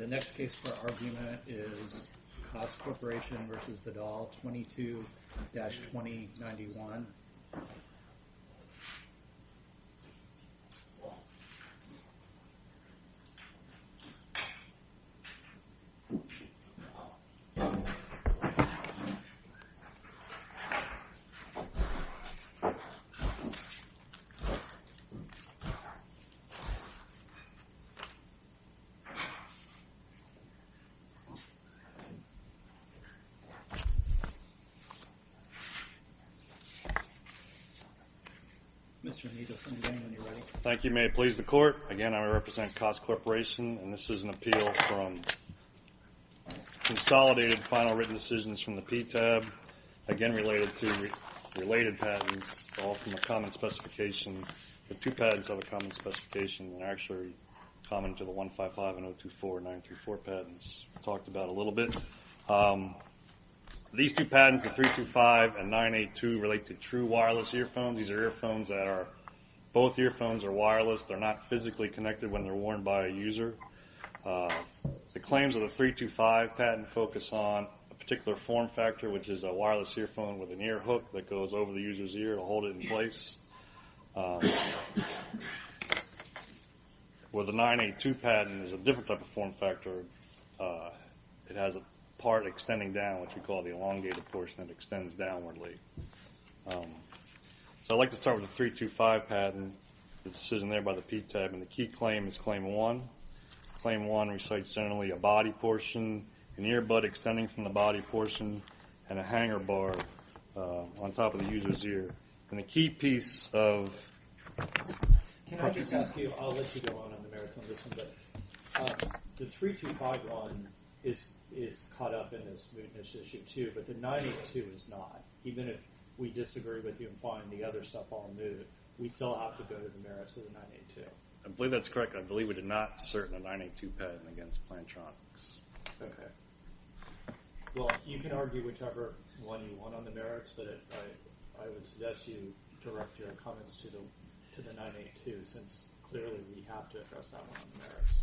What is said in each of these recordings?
The next case for argument is KOSS Corporation v. Vidal 22-2091. Thank you. May it please the Court. Again, I represent KOSS Corporation and this is an appeal from consolidated final written decisions from the PTAB, again related to related patents, all from a common specification. The two patents have a common specification and are actually common to the 155 and 024 and 934 patents we talked about a little bit. These two patents, the 325 and 982, relate to true wireless earphones. These are earphones that are, both earphones are wireless, they're not physically connected when they're worn by a user. The claims of the 325 patent focus on a particular form factor which is a wireless earphone with an is a different type of form factor. It has a part extending down which we call the elongated portion that extends downwardly. So I'd like to start with the 325 patent, the decision there by the PTAB, and the key claim is claim one. Claim one recites generally a body portion, an earbud extending from the body portion, and a hanger bar on top of the user's ear. And a key piece of... Can I just ask you, I'll let you go on on the merits on this one, but the 325 one is caught up in this mootness issue too, but the 982 is not. Even if we disagree with you and find the other stuff all moot, we still have to go to the merits of the 982. I believe that's correct. I believe we did not assert a 982 patent against Plantronics. Well, you can argue whichever one you want on the merits, but I would suggest you direct your comments to the 982 since clearly we have to address that one on the merits.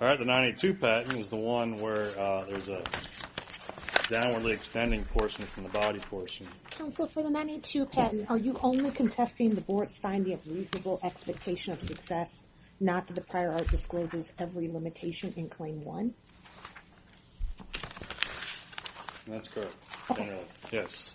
Alright, the 982 patent is the one where there's a downwardly extending portion from the body portion. Counsel, for the 982 patent, are you only contesting the board's finding of reasonable expectation of success, not that the prior art discloses every limitation in claim one? That's correct, yes.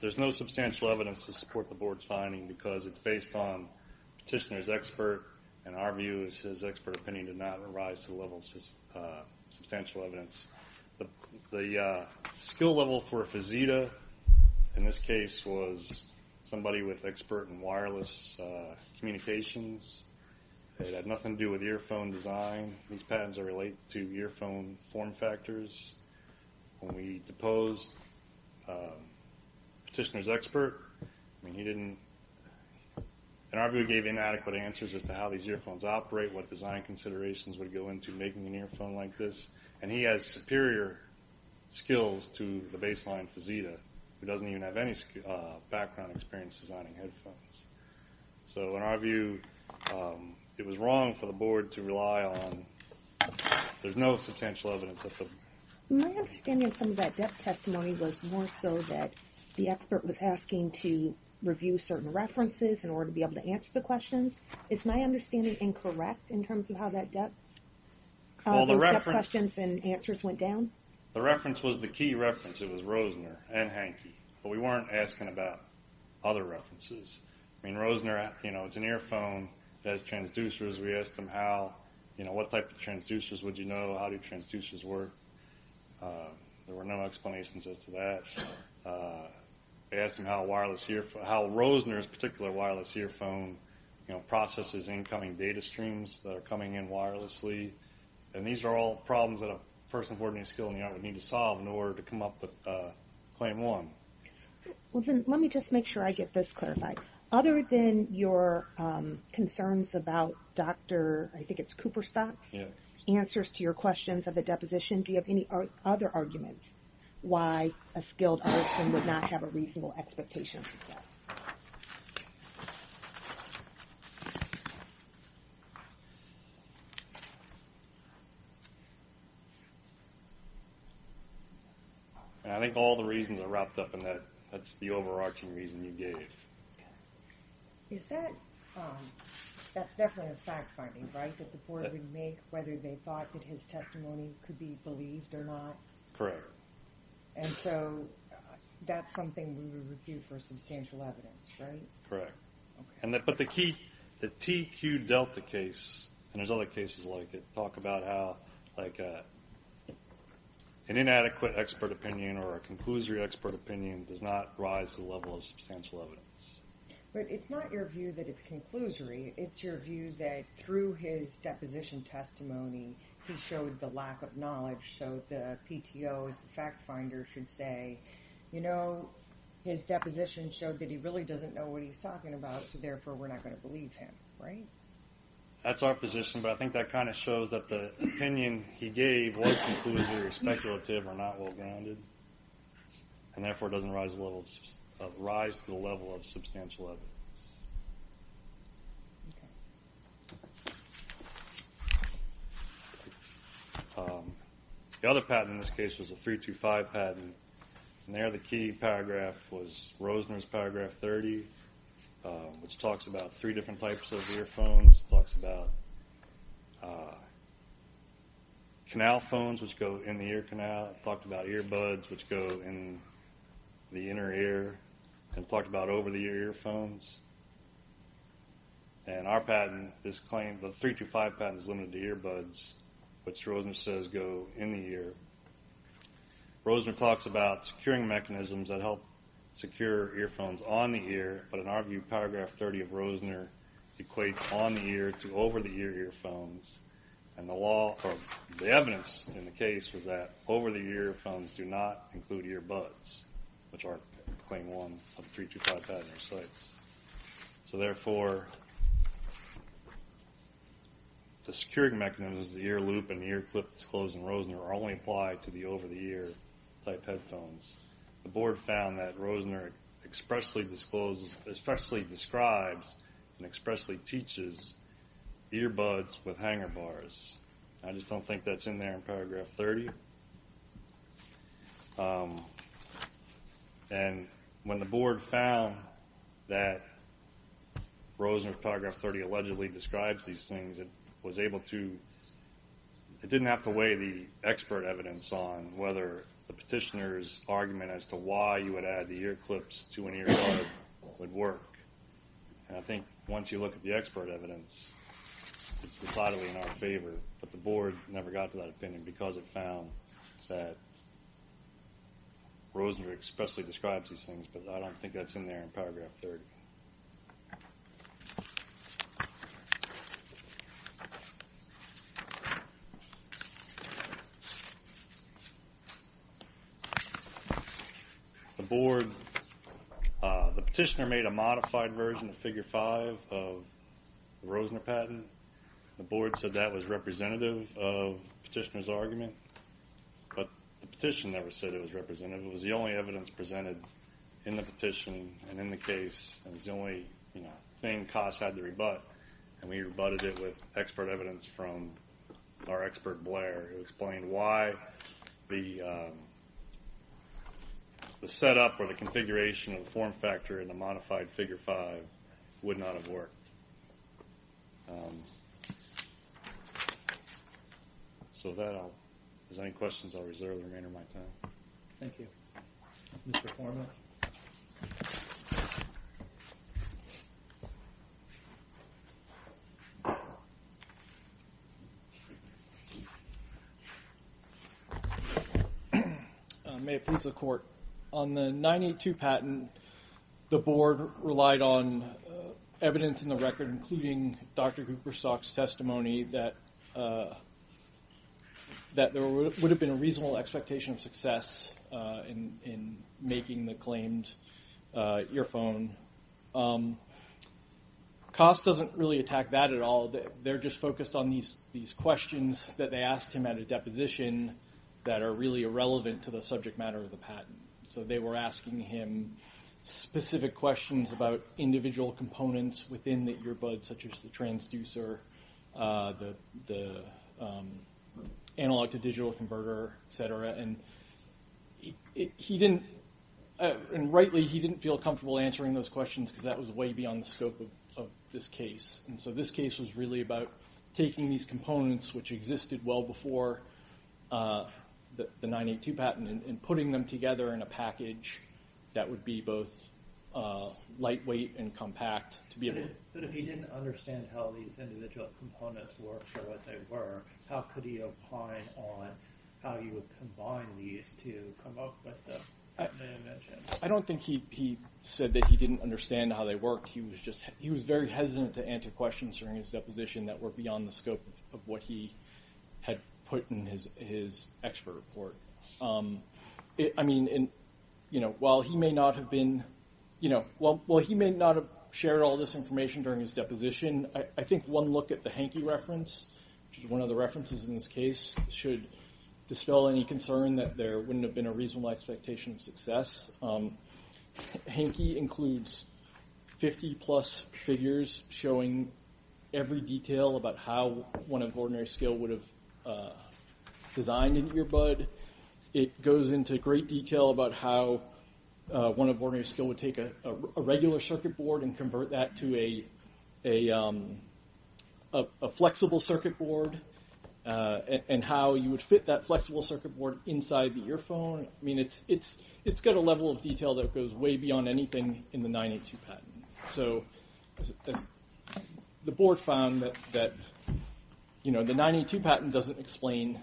There's no substantial evidence to support the board's finding because it's based on Petitioner's expert, and our view is his expert opinion did not arise to the level of substantial evidence. The skill level for Fazita, in this case, was somebody with expert in wireless communications. It had nothing to do with earphone design. These patents are related to earphone form factors. When we deposed Petitioner's expert, I mean, he didn't, in our view, gave inadequate answers as to how these earphones operate, what design considerations would go into making an earphone like this, and he has superior skills to the baseline Fazita, who doesn't even have any background experience designing headphones. So, in our view, it was wrong for the board to rely on, there's no substantial evidence. My understanding of some of that depth testimony was more so that the expert was asking to review certain references in order to be able to answer the questions. Is my understanding incorrect in terms of how that depth questions and answers went down? Well, the reference was the key reference. It was Rosner and Hanke, but we weren't asking about other references. I mean, Rosner, you know, it's an earphone that has transducers. We asked him how, you know, what type of transducers would you know, how do transducers work. There were no explanations as to that. We asked him how a wireless earphone, how Rosner's particular wireless earphone, you know, processes incoming data streams that are coming in wirelessly. And these are all problems that a person with ordinary skill in the arm would need to solve in order to come up with claim one. Well, then let me just make sure I get this clarified. Other than your concerns about Dr., I think it's Cooperstock's answers to your questions of the deposition, do you have any other arguments why a skilled artist would not have a reasonable expectation of success? I think all the reasons are wrapped up in that. That's the overarching reason you gave. Is that, that's definitely a fact finding, right? That the board would make whether they thought that his testimony could be believed or not? Correct. And so that's something we would review for substantial evidence, right? Correct. Okay. But the key, the TQ Delta case, and there's other cases like it, talk about how like an inadequate expert opinion or a conclusory expert opinion does not rise to the level of substantial evidence. But it's not your view that it's conclusory. It's your view that through his deposition testimony, he showed the lack of knowledge. So the PTO's fact finder should say, you know, his deposition showed that he really doesn't know what he's talking about, so therefore we're not going to believe him, right? That's our position, but I think that kind of shows that the opinion he gave was conclusive or speculative or not well-grounded, and therefore doesn't rise to the level of substantial evidence. Okay. The other patent in this case was a 325 patent, and there the key paragraph was Rosner's paragraph 30, which talks about three different types of earphones. It talks about canal phones, which go in the ear canal. It talked about earbuds, which go in the inner ear. It talked about over-the-ear earphones. And our patent, this claim, the 325 patent is limited to earbuds, which Rosner says go in the ear. Rosner talks about securing mechanisms that help secure earphones on the ear, but in our view, paragraph 30 of Rosner equates on the ear to over-the-ear earphones, and the law or the evidence in the case was that over-the-ear earphones do not include earbuds, which are claim one of 325 patent recites. So therefore, the securing mechanisms of the ear loop and the ear clip disclosed in Rosner are only applied to the over-the-ear type headphones. The board found that Rosner expressly describes and expressly teaches earbuds with hanger bars. I just don't think that's in there in paragraph 30. And when the board found that Rosner's paragraph 30 allegedly describes these things, it was able to, it didn't have to weigh the expert evidence on whether the petitioner's argument as to why you would add the ear clips to an earbud would work. And I think once you look at the expert evidence, it's decidedly in our favor, but the board never got to that opinion because it found that Rosner expressly describes these things, but I don't think that's in there in paragraph 30. The board, the petitioner made a modified version of figure five of the Rosner patent. The board said that was representative of the petitioner's argument, but the petition never said it was representative. And it was the only evidence presented in the petition and in the case. It was the only thing COS had to rebut, and we rebutted it with expert evidence from our expert Blair who explained why the setup or the configuration of the form factor in the modified figure five would not have worked. So with that, if there's any questions, I'll reserve the remainder of my time. Thank you. Mr. Forman. May it please the court. On the 982 patent, the board relied on evidence in the record, including Dr. Cooperstock's testimony that there would have been a reasonable expectation of success in making the claimed earphone. COS doesn't really attack that at all. They're just focused on these questions that they asked him at a deposition that are really irrelevant to the subject matter of the patent. So they were asking him specific questions about individual components within the earbud such as the transducer, the analog-to-digital converter, et cetera. And rightly he didn't feel comfortable answering those questions because that was way beyond the scope of this case. And so this case was really about taking these components, which existed well before the 982 patent, and putting them together in a package that would be both lightweight and compact But if he didn't understand how these individual components worked or what they were, how could he opine on how you would combine these to come up with the patent I mentioned? I don't think he said that he didn't understand how they worked. He was very hesitant to answer questions during his deposition that were beyond the scope of what he had put in his expert report. I mean, while he may not have shared all this information during his deposition, I think one look at the Hanke reference, which is one of the references in this case, should dispel any concern that there wouldn't have been a reasonable expectation of success. Hanke includes 50-plus figures showing every detail about how one of ordinary skill would have designed an earbud. It goes into great detail about how one of ordinary skill would take a regular circuit board and convert that to a flexible circuit board and how you would fit that flexible circuit board inside the earphone. I mean, it's got a level of detail that goes way beyond anything in the 982 patent. So the board found that the 982 patent doesn't explain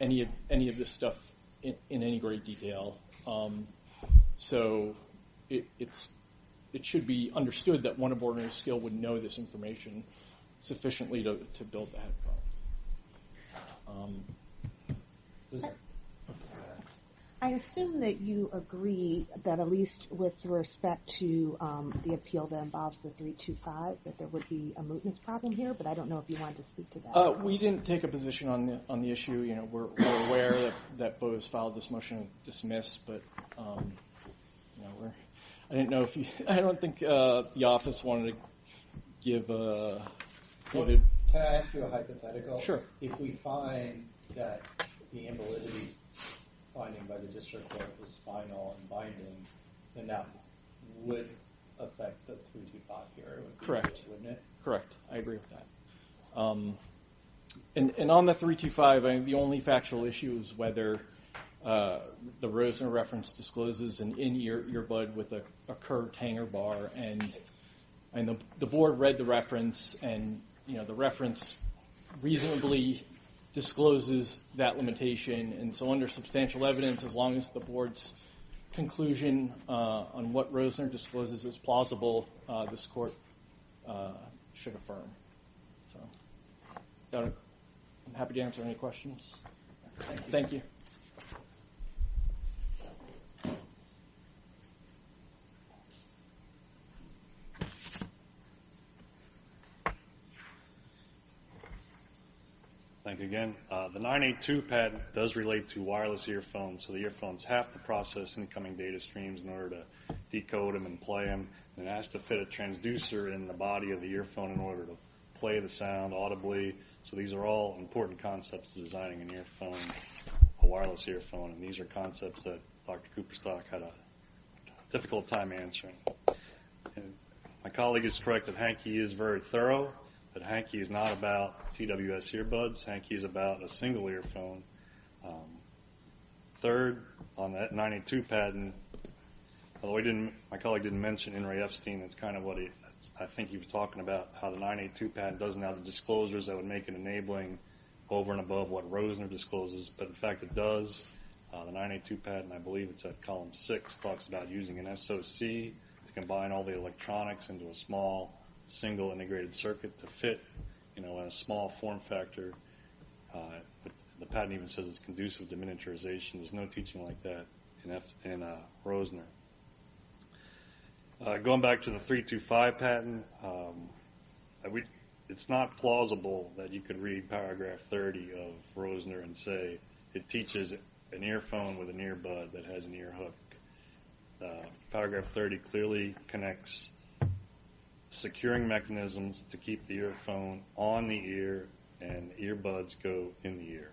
any of this stuff in any great detail. So it should be understood that one of ordinary skill would know this information sufficiently to build the headphone. I assume that you agree that at least with respect to the appeal that involves the 325, that there would be a mootness problem here, but I don't know if you want to speak to that. We didn't take a position on the issue. We're aware that Bo has filed this motion to dismiss, but I don't think the office wanted to give a... Can I ask you a hypothetical? Sure. If we find that the invalidity finding by the district court was spinal and binding, then that would affect the 325 here. Correct. Wouldn't it? Correct. I agree with that. And on the 325, the only factual issue is whether the Rosener reference discloses an in-ear earbud with a curved hanger bar. And the board read the reference, and the reference reasonably discloses that limitation. And so under substantial evidence, as long as the board's conclusion on what Rosener discloses is plausible, this court should affirm. So I'm happy to answer any questions. Thank you. Thank you again. The 982 patent does relate to wireless earphones, so the earphones have to process incoming data streams in order to decode them and play them, and it has to fit a transducer in the body of the earphone in order to play the sound audibly. So these are all important concepts to designing an earphone, a wireless earphone, and these are concepts that Dr. Cooperstock had a difficult time answering. My colleague is correct that Hanke is very thorough, but Hanke is not about TWS earbuds. Hanke is about a single earphone. Third, on that 982 patent, although my colleague didn't mention Henry Epstein, it's kind of what I think he was talking about, how the 982 patent doesn't have the disclosures that would make it enabling over and above what Rosener discloses, but the fact it does, the 982 patent, I believe it's at column six, talks about using an SOC to combine all the electronics into a small single integrated circuit to fit a small form factor. The patent even says it's conducive to miniaturization. There's no teaching like that in Rosener. Going back to the 325 patent, it's not plausible that you could read paragraph 30 of Rosener and say it teaches an earphone with an earbud that has an earhook. Paragraph 30 clearly connects securing mechanisms to keep the earphone on the ear and earbuds go in the ear.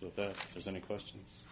So with that, if there's any questions. Thank you.